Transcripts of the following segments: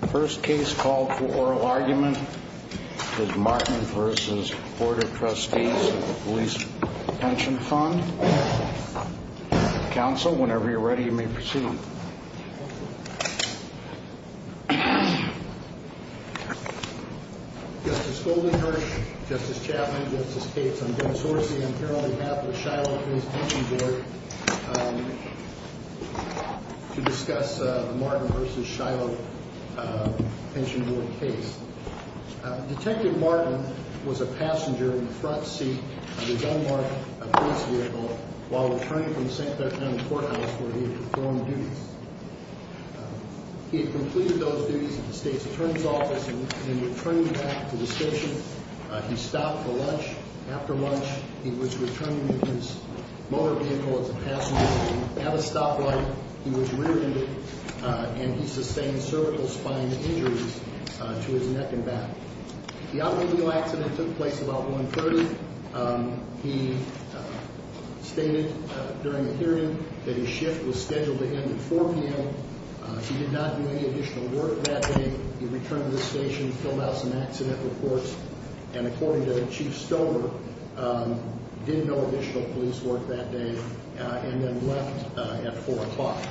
The first case called for oral argument is Martin v. Board of Trustees Police Pension Fund. Counsel, whenever you're ready, you may proceed. Justice Golding-Hirsch, Justice Chapman, Justice Cates, I'm going to source the imperial behalf of the Shiloh Police Pension Board to discuss the Martin v. Shiloh Pension Board case. Detective Martin was a passenger in the front seat of a Denmark police vehicle while returning from St. Petersburg County Courthouse where he had performed duties. He had completed those duties at the State's Attorney's Office and when returning back to the station, he stopped for lunch. After lunch, he was returning with his motor vehicle as a passenger. He had a stoplight, he was rear-ended, and he sustained cervical spine injuries to his neck and back. The outline of the accident took place about 1.30. He stated during the hearing that his shift was scheduled to end at 4 p.m. He did not do any additional work that day. He returned to the station, filled out some accident reports, and according to Chief Stover, did no additional police work that day and then left at 4 o'clock.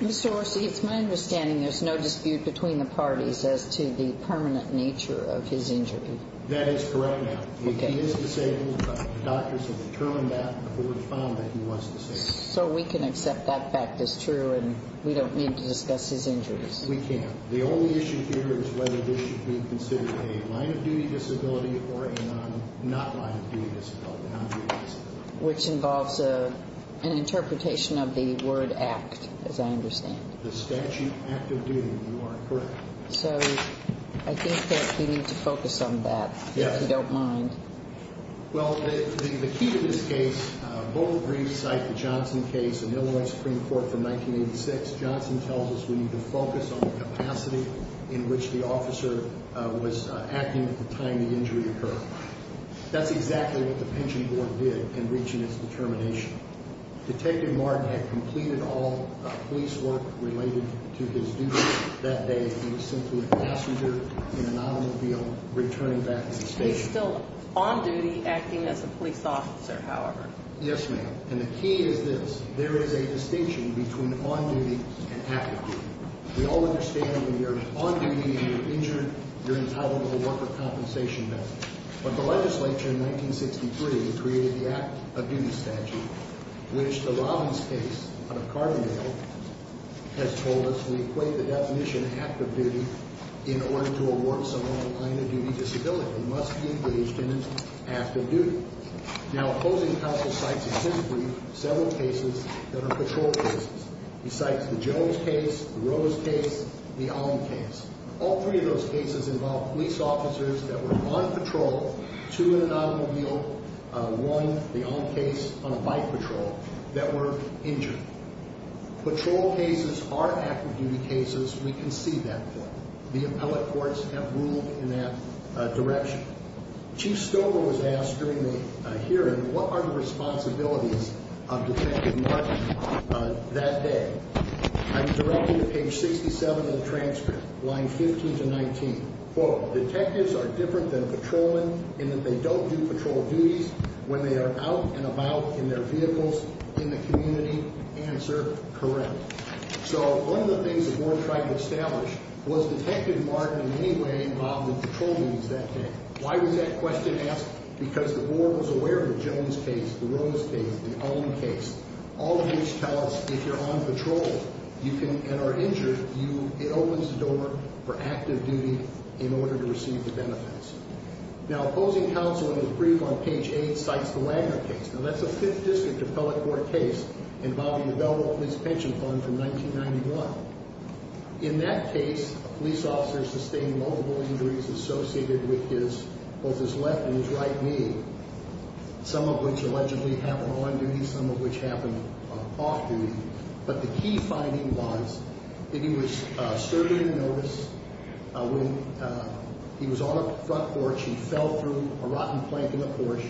Mr. Orsi, it's my understanding there's no dispute between the parties as to the permanent nature of his injury. That is correct, ma'am. If he is disabled, the doctors have determined that before we found that he was disabled. So we can accept that fact as true and we don't need to discuss his injuries? We can't. The only issue here is whether this should be considered a line-of-duty disability or a not-line-of-duty disability, non-duty disability. Which involves an interpretation of the word act, as I understand. The statute, act of duty, you are correct. So I think that we need to focus on that, if you don't mind. Well, the key to this case, both briefs cite the Johnson case in Illinois Supreme Court from 1986. Johnson tells us we need to focus on the capacity in which the officer was acting at the time the injury occurred. That's exactly what the pension board did in reaching its determination. Detective Martin had completed all police work related to his duty that day. He was simply a passenger in an automobile returning back to the station. He's still on duty acting as a police officer, however. Yes, ma'am. And the key is this. There is a distinction between on duty and active duty. We all understand when you're on duty and you're injured, you're entitled to a worker compensation benefit. But the legislature in 1963 created the act of duty statute, which the Robbins case, out of Carbondale, has told us we equate the definition of active duty in order to award someone a line-of-duty disability. They must be engaged in an act of duty. Now, opposing counsel cites in his brief several cases that are patrol cases. He cites the Jones case, the Rose case, the Alm case. All three of those cases involve police officers that were on patrol, two in an automobile, one, the Alm case, on a bike patrol, that were injured. Patrol cases are active duty cases. We can see that point. The appellate courts have ruled in that direction. Chief Stover was asked during the hearing, what are the responsibilities of Detective Martin that day? I'm directed to page 67 of the transcript, line 15 to 19. Quote, detectives are different than patrolmen in that they don't do patrol duties when they are out and about in their vehicles in the community. Answer, correct. So one of the things the board tried to establish was Detective Martin in any way involved in patrol duties that day. Why was that question asked? Because the board was aware of the Jones case, the Rose case, the Alm case, all of which tell us if you're on patrol and are injured, it opens the door for active duty in order to receive the benefits. Now, opposing counsel in his brief on page 8 cites the Wagner case. Now, that's a Fifth District appellate court case involving the Belleville Police Pension Fund from 1991. In that case, a police officer sustained multiple injuries associated with both his left and his right knee, some of which allegedly happened on duty, some of which happened off duty. But the key finding was that he was serving a notice when he was on the front porch, he fell through a rotten plank in the porch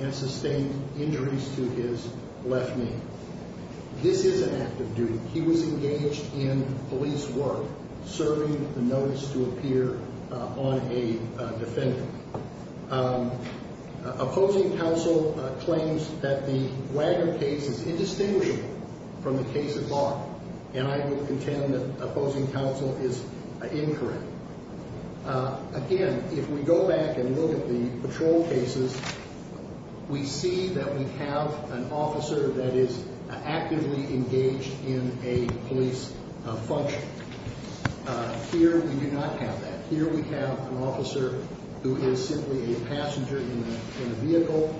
and sustained injuries to his left knee. This is an active duty. He was engaged in police work, serving the notice to appear on a defendant. Opposing counsel claims that the Wagner case is indistinguishable from the case at large, and I will contend that opposing counsel is incorrect. Again, if we go back and look at the patrol cases, we see that we have an officer that is actively engaged in a police function. Here, we do not have that. Here, we have an officer who is simply a passenger in a vehicle,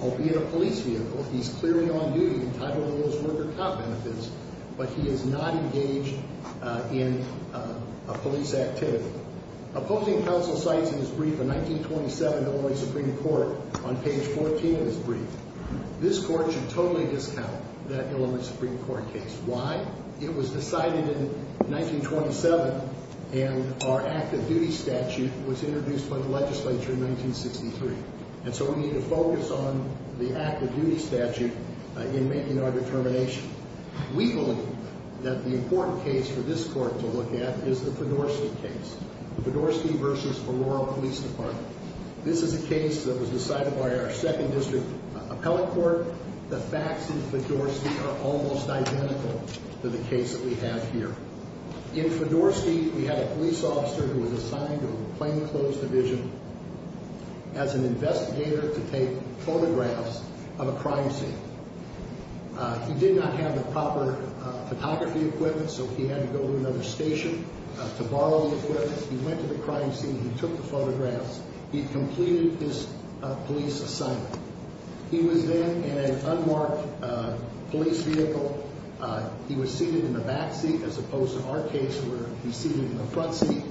albeit a police vehicle. He's clearly on duty, entitling those worker cop benefits, but he is not engaged in a police activity. Opposing counsel cites in his brief a 1927 Illinois Supreme Court on page 14 of his brief. This court should totally discount that Illinois Supreme Court case. Why? It was decided in 1927, and our active duty statute was introduced by the legislature in 1963. And so we need to focus on the active duty statute in making our determination. We believe that the important case for this court to look at is the Podorsky case. The Podorsky versus Ferraro Police Department. This is a case that was decided by our second district appellate court. The facts in Podorsky are almost identical to the case that we have here. In Podorsky, we had a police officer who was assigned to a plainclothes division as an investigator to take photographs of a crime scene. He did not have the proper photography equipment, so he had to go to another station to borrow the equipment. He went to the crime scene. He took the photographs. He completed his police assignment. He was then in an unmarked police vehicle. He was seated in the back seat as opposed to our case where he's seated in the front seat.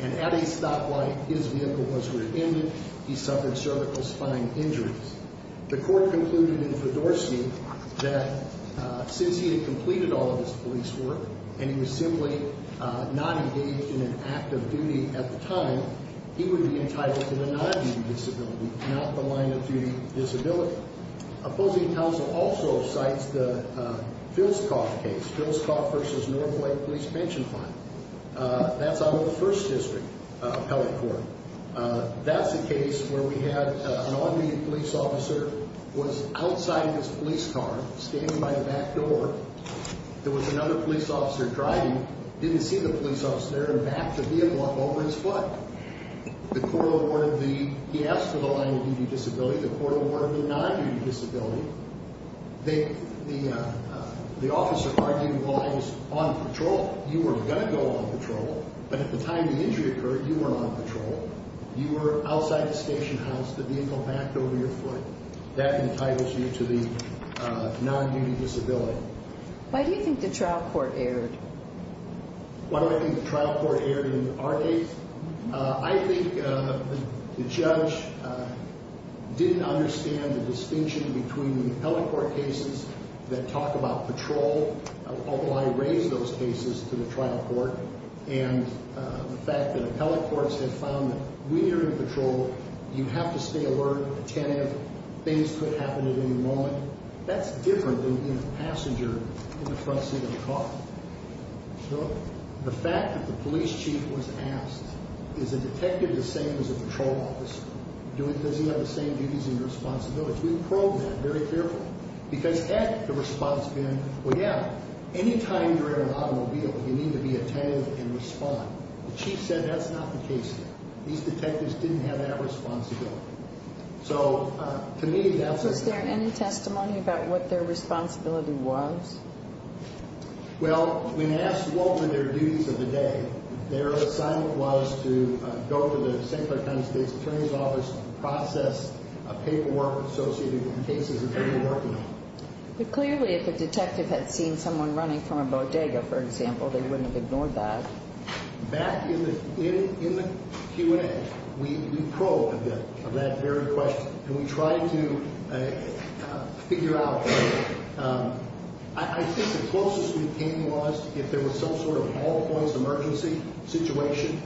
And at a stoplight, his vehicle was rear-ended. He suffered cervical spine injuries. The court concluded in Podorsky that since he had completed all of his police work and he was simply not engaged in an active duty at the time, he would be entitled to the non-active duty disability, not the line of duty disability. Opposing counsel also cites the Filscoff case, Filscoff versus Norfolk Police Pension Fund. That's out of the first district appellate court. That's a case where we had an on-duty police officer who was outside his police car, standing by the back door. There was another police officer driving, didn't see the police officer, and backed the vehicle up over his foot. He asked for the line of duty disability. The court awarded the non-duty disability. The officer argued the line was on patrol. You weren't going to go on patrol, but at the time the injury occurred, you weren't on patrol. You were outside the station house. The vehicle backed over your foot. That entitles you to the non-duty disability. Why do you think the trial court erred? Why do I think the trial court erred in our case? I think the judge didn't understand the distinction between the appellate court cases that talk about patrol, although I raised those cases to the trial court, and the fact that appellate courts have found that when you're on patrol, you have to stay alert, attentive. Things could happen at any moment. That's different than being a passenger in the front seat of a car. The fact that the police chief was asked, is a detective the same as a patrol officer? Does he have the same duties and responsibilities? We probed that very carefully, because at the response we had, well, yeah, any time you're in an automobile, you need to be attentive and respond. The chief said that's not the case here. These detectives didn't have that responsibility. So, to me, that's a- Was there any testimony about what their responsibility was? Well, when asked what were their duties of the day, their assignment was to go to the St. Clair County State's Attorney's Office and process a paperwork associated with the cases that they were working on. But clearly, if a detective had seen someone running from a bodega, for example, they wouldn't have ignored that. Back in the Q&A, we probed a bit of that very question, and we tried to figure out, I think the closest we came was if there was some sort of all-points emergency situation,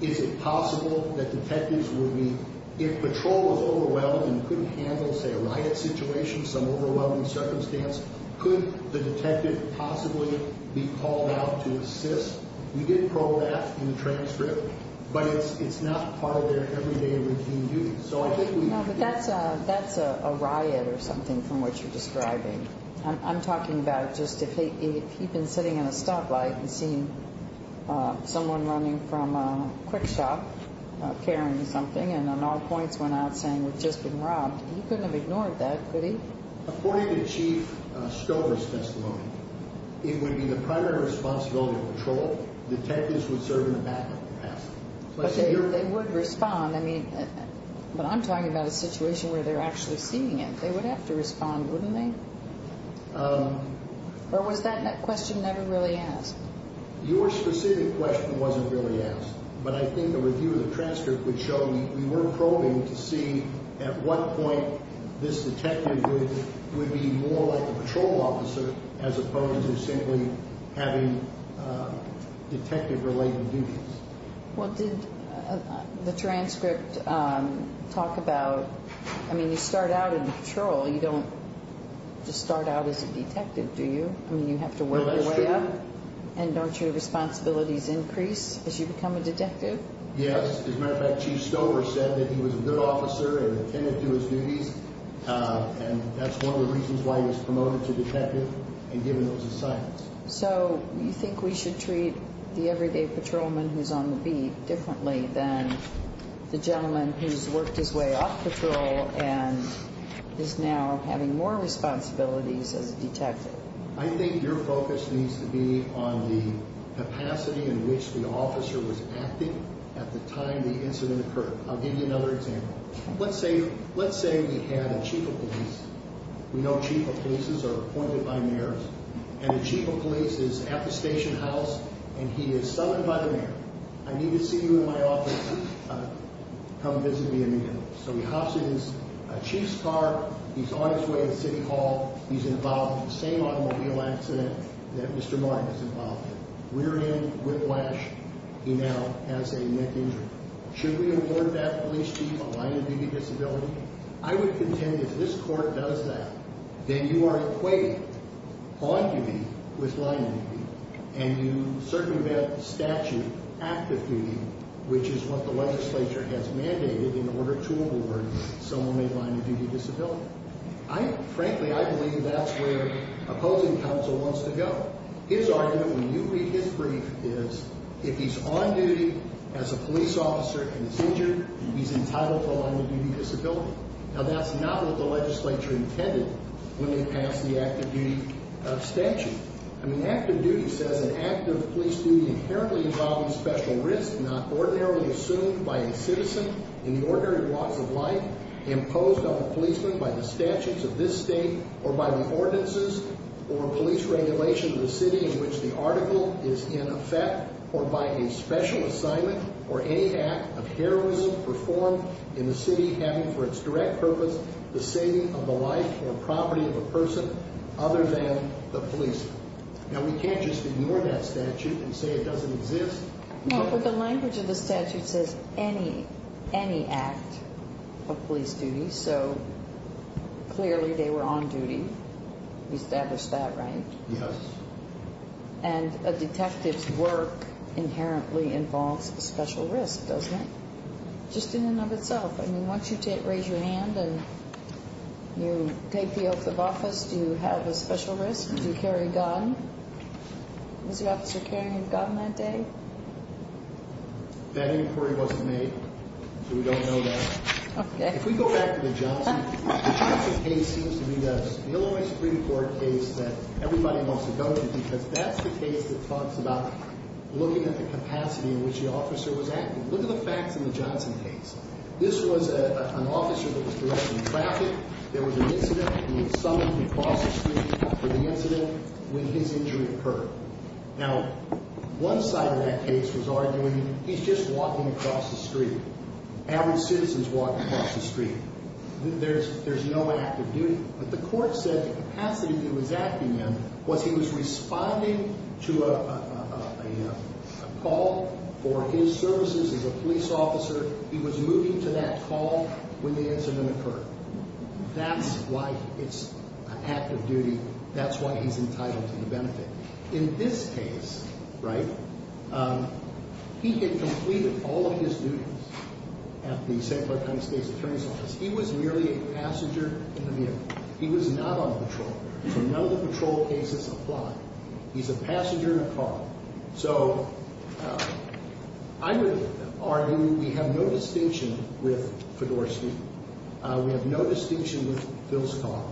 is it possible that detectives would be- If patrol was overwhelmed and couldn't handle, say, a riot situation, some overwhelming circumstance, could the detective possibly be called out to assist? We did probe that in the transcript, but it's not part of their everyday routine duties. So I think we- No, but that's a riot or something from what you're describing. I'm talking about just if he'd been sitting in a stoplight and seen someone running from a quick shop carrying something and on all points went out saying we've just been robbed, he couldn't have ignored that, could he? According to Chief Stover's testimony, it would be the primary responsibility of patrol. Detectives would serve in the backup capacity. But they would respond. I mean, but I'm talking about a situation where they're actually seeing it. They would have to respond, wouldn't they? Or was that question never really asked? Your specific question wasn't really asked, but I think the review of the transcript would show we were probing to see at what point this detective would be more like a patrol officer as opposed to simply having detective-related duties. Well, did the transcript talk about, I mean, you start out in patrol. You don't just start out as a detective, do you? I mean, you have to work your way up. Yes. As a matter of fact, Chief Stover said that he was a good officer and attended to his duties, and that's one of the reasons why he was promoted to detective and given those assignments. So you think we should treat the everyday patrolman who's on the beat differently than the gentleman who's worked his way up patrol and is now having more responsibilities as a detective? I think your focus needs to be on the capacity in which the officer was acting at the time the incident occurred. I'll give you another example. Let's say we had a chief of police. We know chief of polices are appointed by mayors, and the chief of police is at the station house, and he is summoned by the mayor. I need to see you in my office. Come visit me immediately. So he hops in his chief's car. He's on his way to City Hall. He's involved in the same automobile accident that Mr. Martin is involved in. We're in whiplash. He now has a neck injury. Should we award that police chief a line-of-duty disability? I would contend if this court does that, then you are equated on duty with line-of-duty, and you certainly have statute active duty, which is what the legislature has mandated in order to award someone a line-of-duty disability. Frankly, I believe that's where opposing counsel wants to go. His argument, when you read his brief, is if he's on duty as a police officer and is injured, he's entitled to a line-of-duty disability. Now, that's not what the legislature intended when they passed the active duty abstention. I mean, active duty says an act of police duty inherently involving special risks imposed on a policeman by the statutes of this state or by the ordinances or police regulation of the city in which the article is in effect or by a special assignment or any act of heroism performed in the city having for its direct purpose the saving of the life or property of a person other than the policeman. Now, we can't just ignore that statute and say it doesn't exist. No, but the language of the statute says any act of police duty, so clearly they were on duty. We established that, right? Yes. And a detective's work inherently involves a special risk, doesn't it? Just in and of itself. I mean, once you raise your hand and you take the oath of office, do you have a special risk? Do you carry a gun? Was the officer carrying a gun that day? That inquiry wasn't made, so we don't know that. Okay. If we go back to the Johnson case, it seems to me that it's the only Supreme Court case that everybody wants to go to because that's the case that talks about looking at the capacity in which the officer was acting. Look at the facts in the Johnson case. This was an officer that was directly in traffic. There was an incident. He was summoned across the street for the incident when his injury occurred. Now, one side of that case was arguing he's just walking across the street. Average citizen's walking across the street. There's no active duty. But the court said the capacity that he was acting in was he was responding to a call for his services as a police officer. He was moving to that call when the incident occurred. That's why it's an active duty. That's why he's entitled to the benefit. In this case, right, he had completed all of his duties at the St. Bartholomew State's attorney's office. He was merely a passenger in a vehicle. He was not on patrol. So none of the patrol cases apply. He's a passenger in a car. So I would argue we have no distinction with Fedorsky. We have no distinction with Vilskov.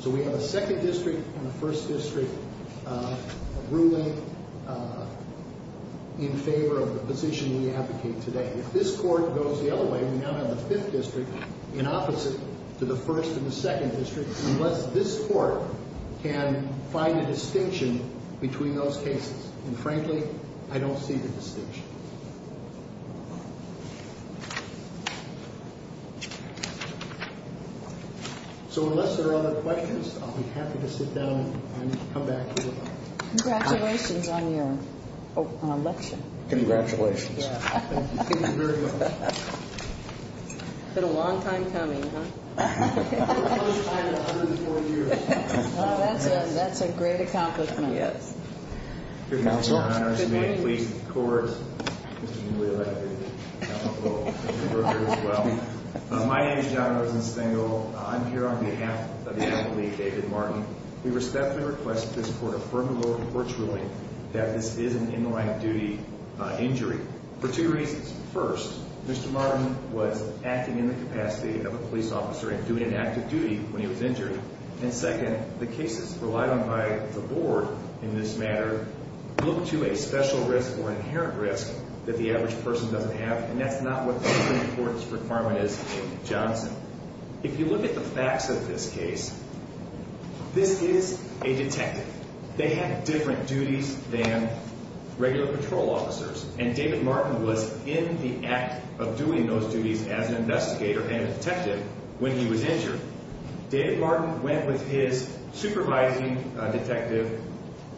So we have a second district and a first district ruling in favor of the position we advocate today. If this court goes the other way, we now have a fifth district in opposite to the first and the second district unless this court can find a distinction between those cases. And, frankly, I don't see the distinction. So unless there are other questions, I'll be happy to sit down and come back to you. Congratulations on your election. Congratulations. Thank you very much. It's been a long time coming, huh? It's been 104 years. Well, that's a great accomplishment. Yes. Congratulations. It's an honor to be a police court. My name is John Rosenstengel. I'm here on behalf of the athlete, David Martin. We respectfully request that this court affirm the lower court's ruling that this is an in-line-of-duty injury for two reasons. First, Mr. Martin was acting in the capacity of a police officer and doing an active duty when he was injured. And second, the cases relied on by the board in this matter look to a special risk or inherent risk that the average person doesn't have. And that's not what this court's requirement is in Johnson. If you look at the facts of this case, this is a detective. They have different duties than regular patrol officers. And David Martin was in the act of doing those duties as an investigator and a detective when he was injured. David Martin went with his supervising detective,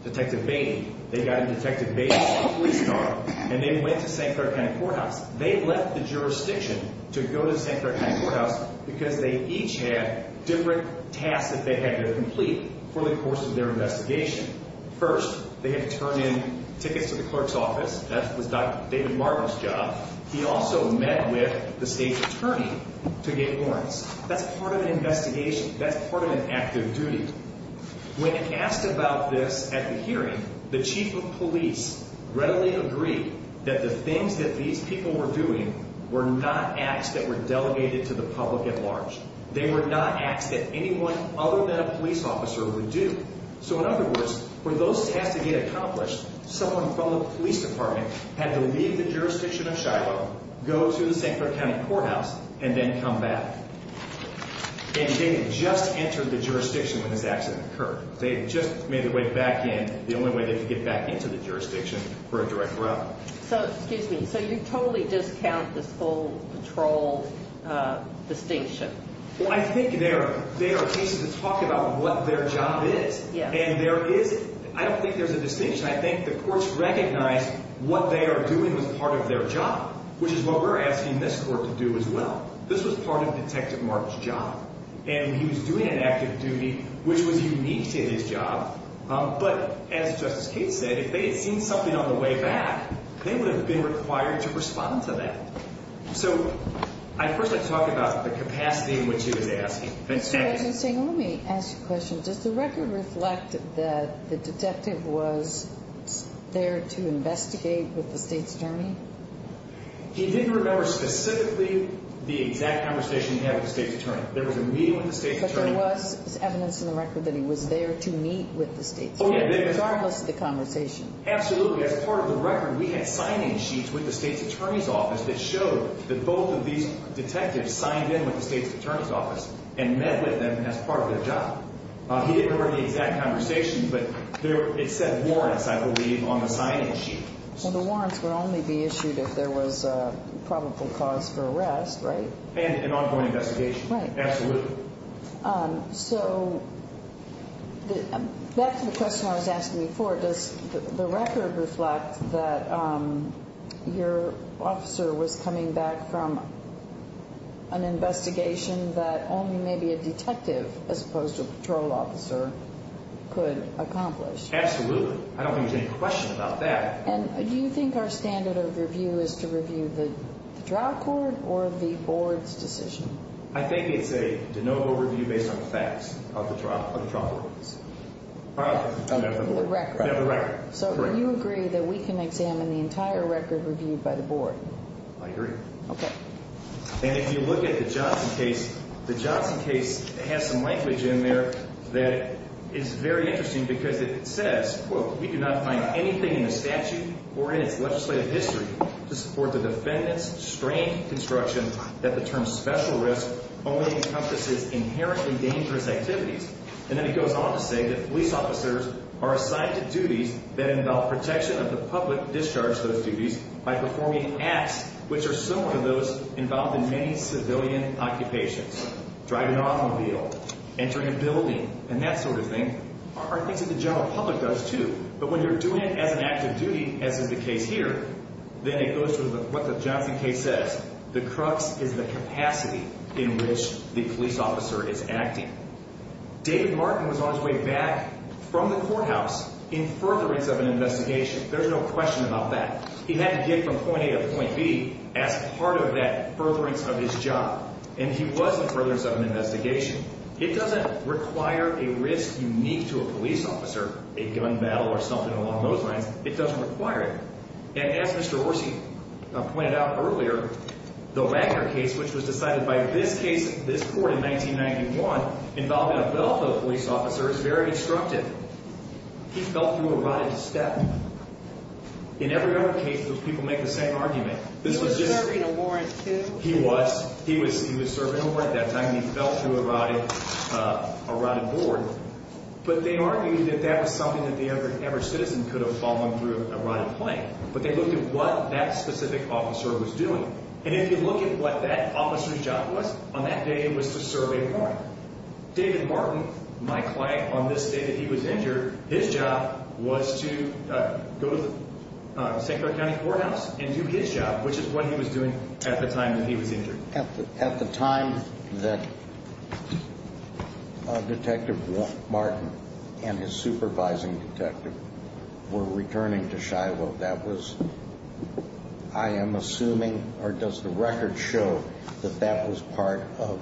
Detective Beatty. They got in Detective Beatty's police car and they went to St. Clair County Courthouse. They left the jurisdiction to go to St. Clair County Courthouse because they each had different tasks that they had to complete for the course of their investigation. First, they had to turn in tickets to the clerk's office. That was Dr. David Martin's job. He also met with the state's attorney to get warrants. That's part of an investigation. That's part of an active duty. When asked about this at the hearing, the chief of police readily agreed that the things that these people were doing were not acts that were delegated to the public at large. They were not acts that anyone other than a police officer would do. So in other words, for those tasks to get accomplished, someone from the police department had to leave the jurisdiction of Shiloh, go to the St. Clair County Courthouse, and then come back. And they had just entered the jurisdiction when this accident occurred. They had just made their way back in. The only way they could get back into the jurisdiction were a direct route. So, excuse me, so you totally discount this whole patrol distinction? Well, I think there are cases that talk about what their job is. And there isn't. I don't think there's a distinction. I think the courts recognize what they are doing was part of their job, which is what we're asking this court to do as well. This was part of Detective Martin's job. And he was doing an active duty, which was unique to his job. But as Justice Cates said, if they had seen something on the way back, they would have been required to respond to that. So, I'd first like to talk about the capacity in which he was asking. Let me ask you a question. Does the record reflect that the detective was there to investigate with the state's attorney? He didn't remember specifically the exact conversation he had with the state's attorney. There was a meeting with the state's attorney. But there was evidence in the record that he was there to meet with the state's attorney, regardless of the conversation. Absolutely. As part of the record, we had signing sheets with the state's attorney's office that showed that both of these detectives signed in with the state's attorney's office and met with them as part of their job. He didn't remember the exact conversation, but it said warrants, I believe, on the signing sheet. Well, the warrants would only be issued if there was a probable cause for arrest, right? And an ongoing investigation. Right. Absolutely. So, back to the question I was asking before, does the record reflect that your officer was coming back from an investigation that only maybe a detective, as opposed to a patrol officer, could accomplish? Absolutely. I don't think there's any question about that. And do you think our standard of review is to review the trial court or the board's decision? I think it's a de novo review based on the facts of the trial court. I meant the board. The record. Yeah, the record. So, do you agree that we can examine the entire record reviewed by the board? I agree. Okay. And if you look at the Johnson case, the Johnson case has some language in there that is very interesting because it says, quote, we do not find anything in the statute or in its legislative history to support the defendant's strained construction that the term special risk only encompasses inherently dangerous activities. And then it goes on to say that police officers are assigned to duties that involve protection of the public discharged to those duties by performing acts which are similar to those involved in many civilian occupations. Driving an automobile. Entering a building. And that sort of thing are things that the general public does, too. But when you're doing it as an act of duty, as is the case here, then it goes to what the Johnson case says. The crux is the capacity in which the police officer is acting. David Martin was on his way back from the courthouse in furtherance of an investigation. There's no question about that. He had to get from point A to point B as part of that furtherance of his job. And he was in furtherance of an investigation. It doesn't require a risk unique to a police officer, a gun battle or something along those lines. It doesn't require it. And as Mr. Orsi pointed out earlier, the Wagner case, which was decided by this case, this court in 1991, involving a fellow police officer, is very instructive. He fell through a rotted step. In every other case, those people make the same argument. He was serving a warrant, too. He was. He was serving a warrant at that time, and he fell through a rotted board. But they argued that that was something that the average citizen could have fallen through a rotted plank. But they looked at what that specific officer was doing. And if you look at what that officer's job was, on that day it was to serve a warrant. David Martin, my client, on this day that he was injured, his job was to go to St. Clair County Courthouse and do his job, which is what he was doing at the time that he was injured. At the time that Detective Martin and his supervising detective were returning to Shiloh, that was, I am assuming, or does the record show that that was part of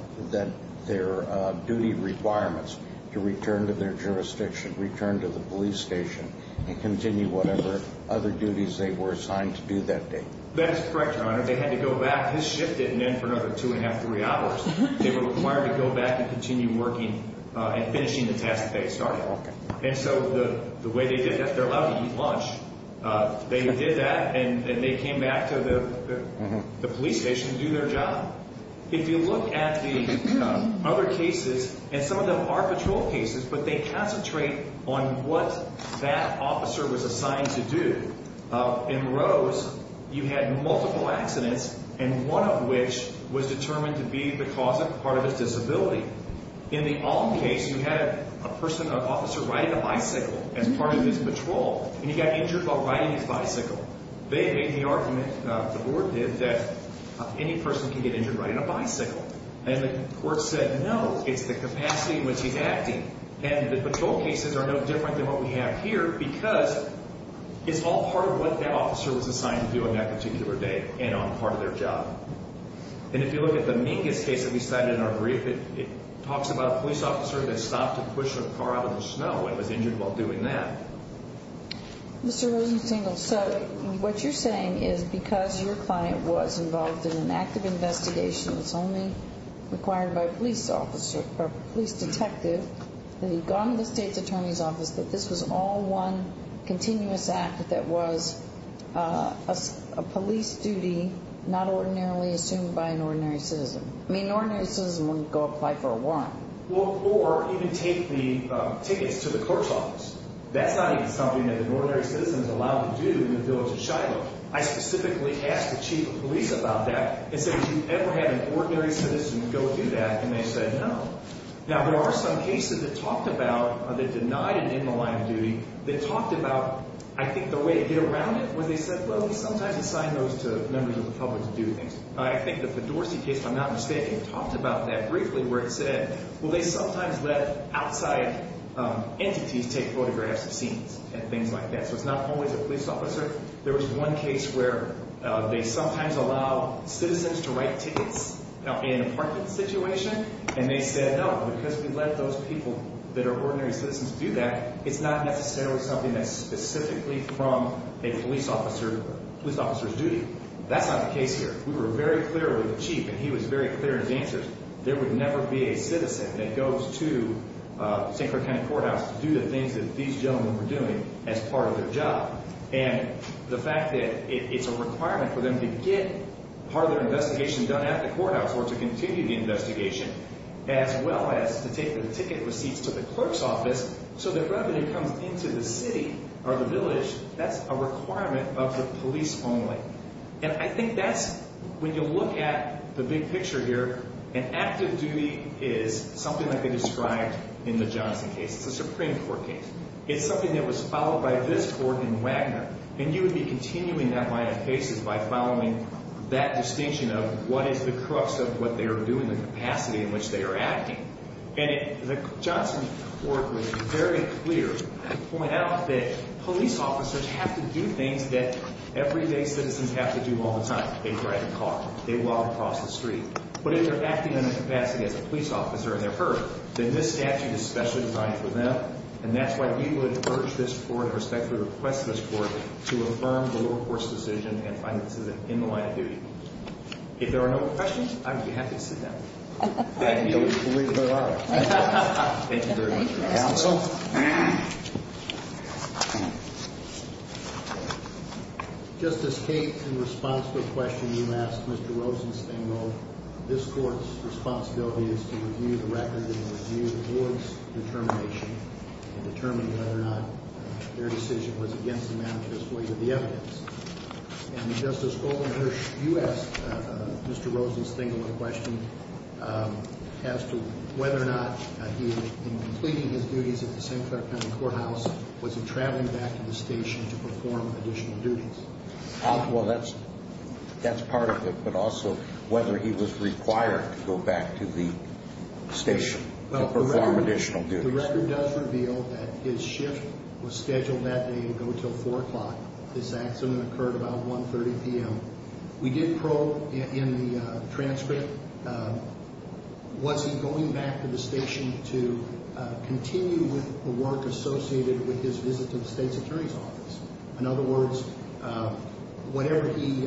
their duty requirements to return to their jurisdiction, return to the police station, and continue whatever other duties they were assigned to do that day? That is correct, Your Honor. They had to go back. His shift didn't end for another two and a half, three hours. They were required to go back and continue working and finishing the task that they had started. And so the way they did that, they're allowed to eat lunch. They did that, and they came back to the police station to do their job. If you look at the other cases, and some of them are patrol cases, but they concentrate on what that officer was assigned to do. In Rose, you had multiple accidents, and one of which was determined to be the cause of part of his disability. In the Olin case, you had a person, an officer riding a bicycle as part of his patrol, and he got injured while riding his bicycle. They made the argument, the board did, that any person can get injured riding a bicycle. And the court said, no, it's the capacity in which he's acting. And the patrol cases are no different than what we have here because it's all part of what that officer was assigned to do on that particular day and on part of their job. And if you look at the Mingus case that we cited in our brief, it talks about a police officer that stopped to push a car out of the snow and was injured while doing that. Mr. Rosenstein, what you're saying is because your client was involved in an active investigation that's only required by a police detective, that he'd gone to the state's attorney's office, that this was all one continuous act that was a police duty not ordinarily assumed by an ordinary citizen. I mean, an ordinary citizen wouldn't go apply for a warrant. Or even take the tickets to the court's office. That's not even something that an ordinary citizen is allowed to do in the village of Shiloh. I specifically asked the chief of police about that and said, have you ever had an ordinary citizen go do that? And they said no. Now, there are some cases that talked about, that denied an in the line of duty, that talked about, I think, the way to get around it, where they said, well, we sometimes assign those to members of the public to do things. I think the Pedorsi case, if I'm not mistaken, talked about that briefly where it said, well, they sometimes let outside entities take photographs of scenes and things like that. So it's not always a police officer. There was one case where they sometimes allow citizens to write tickets in an apartment situation, and they said, no, because we let those people that are ordinary citizens do that, it's not necessarily something that's specifically from a police officer's duty. That's not the case here. We were very clear with the chief, and he was very clear in his answers. There would never be a citizen that goes to St. Clair County Courthouse to do the things that these gentlemen were doing as part of their job. And the fact that it's a requirement for them to get part of their investigation done at the courthouse or to continue the investigation, as well as to take the ticket receipts to the clerk's office, so the revenue comes into the city or the village, that's a requirement of the police only. And I think that's, when you look at the big picture here, an active duty is something like they described in the Johnson case. It's a Supreme Court case. It's something that was followed by this court in Wagner, and you would be continuing that line of cases by following that distinction of what is the crux of what they are doing, the capacity in which they are acting. And the Johnson court was very clear to point out that police officers have to do things that everyday citizens have to do all the time. They drive a car. They walk across the street. But if they're acting in a capacity as a police officer and they're heard, then this statute is specially designed for them, and that's why we would urge this court, or respectfully request this court, to affirm the lower court's decision and find it in the line of duty. If there are no more questions, I would be happy to sit down. Thank you. Thank you very much, Your Honor. Counsel? Justice Kate, in response to a question you asked Mr. Rosenstengel, this court's responsibility is to review the record and review the board's determination to determine whether or not their decision was against the manifest way of the evidence. And Justice Goldenberg, you asked Mr. Rosenstengel a question as to whether or not he, in completing his duties at the St. Clair County Courthouse, was he traveling back to the station to perform additional duties. Well, that's part of it, but also whether he was required to go back to the station to perform additional duties. The record does reveal that his shift was scheduled that day to go until 4 o'clock. This accident occurred about 1.30 p.m. We did probe in the transcript, was he going back to the station to continue with the work associated with his visit to the State's Attorney's Office? In other words, whatever he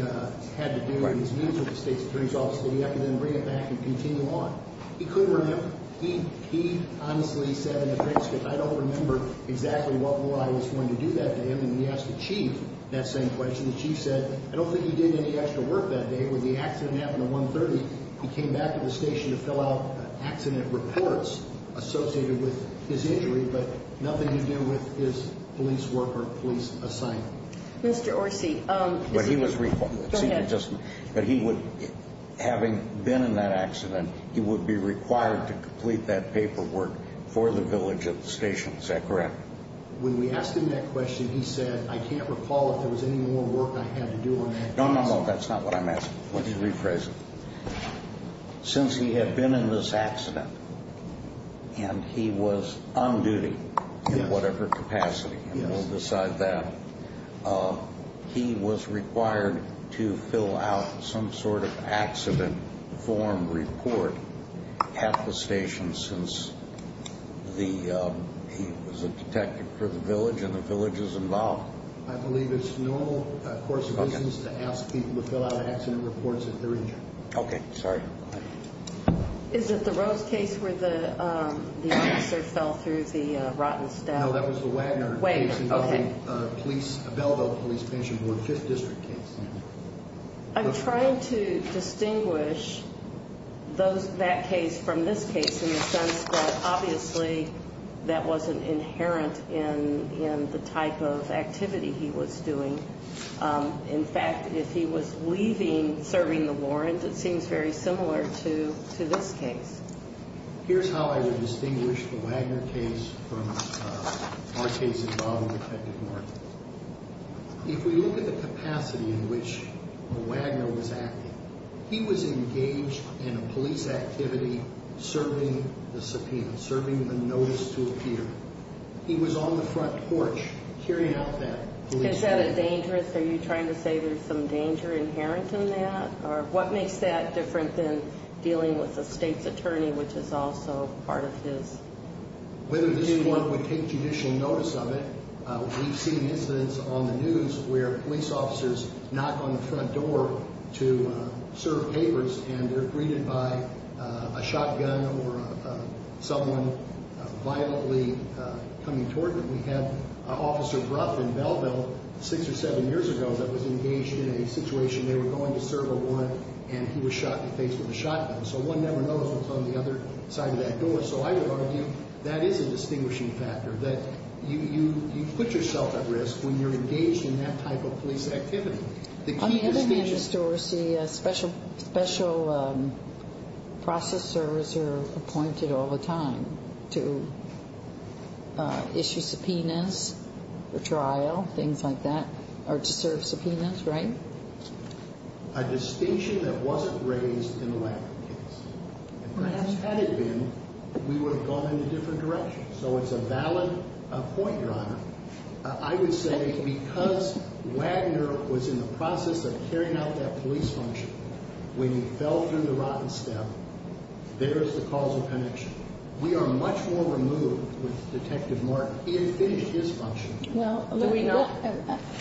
had to do in his meetings with the State's Attorney's Office, did he have to then bring it back and continue on? He could remember. He honestly said in the transcript, I don't remember exactly what more I was going to do that to him. And when we asked the Chief that same question, the Chief said, I don't think he did any extra work that day. When the accident happened at 1.30, he came back to the station to fill out accident reports associated with his injury, but nothing to do with his police work or police assignment. Mr. Orsi, is he – But he was – Go ahead. But he would – having been in that accident, he would be required to complete that paperwork for the village of the station. Is that correct? When we asked him that question, he said, I can't recall if there was any more work I had to do on that case. No, no, no, that's not what I'm asking. Let me rephrase it. Since he had been in this accident and he was on duty in whatever capacity, and we'll decide that, he was required to fill out some sort of accident form report at the station since he was a detective for the village and the village is involved. I believe it's normal course of business to ask people to fill out accident reports if they're injured. Okay, sorry. Is it the Rose case where the officer fell through the rotten step? No, that was the Wagner case involving a Belleville police patient who was a 5th District case. I'm trying to distinguish that case from this case in the sense that, obviously, that wasn't inherent in the type of activity he was doing. In fact, if he was leaving, serving the warrant, it seems very similar to this case. Here's how I would distinguish the Wagner case from our case involving Detective Martin. If we look at the capacity in which Wagner was acting, he was engaged in a police activity serving the subpoena, serving the notice to appear. He was on the front porch carrying out that police activity. Is that a danger? Are you trying to say there's some danger inherent in that? Or what makes that different than dealing with the state's attorney, which is also part of his? Whether anyone would take judicial notice of it, we've seen incidents on the news where police officers knock on the front door to serve papers, and they're greeted by a shotgun or someone violently coming toward them. We had Officer Gruff in Belleville six or seven years ago that was engaged in a situation. They were going to serve a warrant, and he was shot in the face with a shotgun. So one never knows what's on the other side of that door. So I would argue that is a distinguishing factor, that you put yourself at risk when you're engaged in that type of police activity. On the other hand, Mr. Orsi, special process servicers are appointed all the time to issue subpoenas for trial, things like that, or to serve subpoenas, right? A distinction that wasn't raised in the Wagner case. And perhaps had it been, we would have gone in a different direction. So it's a valid point, Your Honor. I would say because Wagner was in the process of carrying out that police function, when he fell through the rotten step, there is the cause of connection. We are much more removed with Detective Mark. He had finished his function.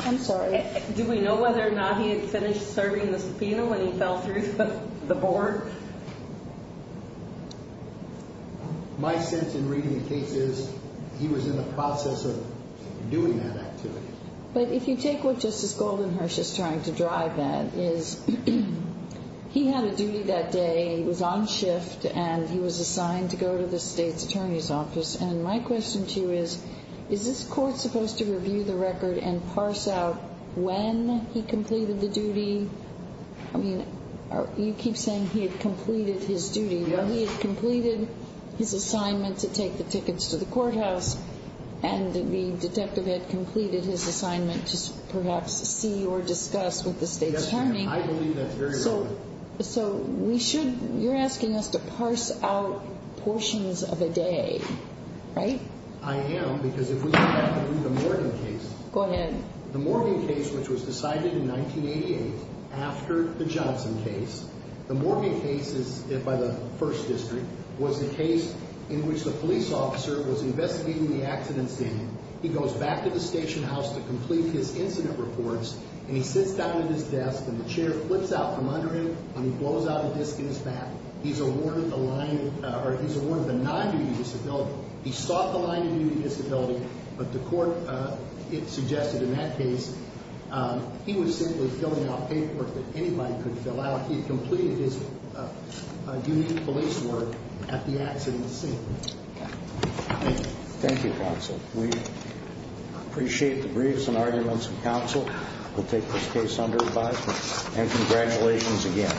I'm sorry. Do we know whether or not he had finished serving the subpoena when he fell through the board? My sense in reading the case is he was in the process of doing that activity. But if you take what Justice Goldenherz is trying to drive at is he had a duty that day. He was on shift, and he was assigned to go to the state's attorney's office. And my question to you is, is this court supposed to review the record and parse out when he completed the duty? I mean, you keep saying he had completed his duty. Well, he had completed his assignment to take the tickets to the courthouse, and the detective had completed his assignment to perhaps see or discuss with the state's attorney. I believe that's very valid. So you're asking us to parse out portions of a day, right? I am, because if we look at the Morgan case. Go ahead. The Morgan case, which was decided in 1988 after the Johnson case, the Morgan case by the 1st District was a case in which the police officer was investigating the accident scene. He goes back to the station house to complete his incident reports, and he sits down at his desk, and the chair flips out from under him, and he blows out a disc in his back. He's awarded the non-immunity disability. He sought the non-immunity disability, but the court suggested in that case he was simply filling out paperwork that anybody could fill out. He had completed his duty of police work at the accident scene. Thank you. Thank you, counsel. We appreciate the briefs and arguments of counsel. We'll take this case under advisement, and congratulations again.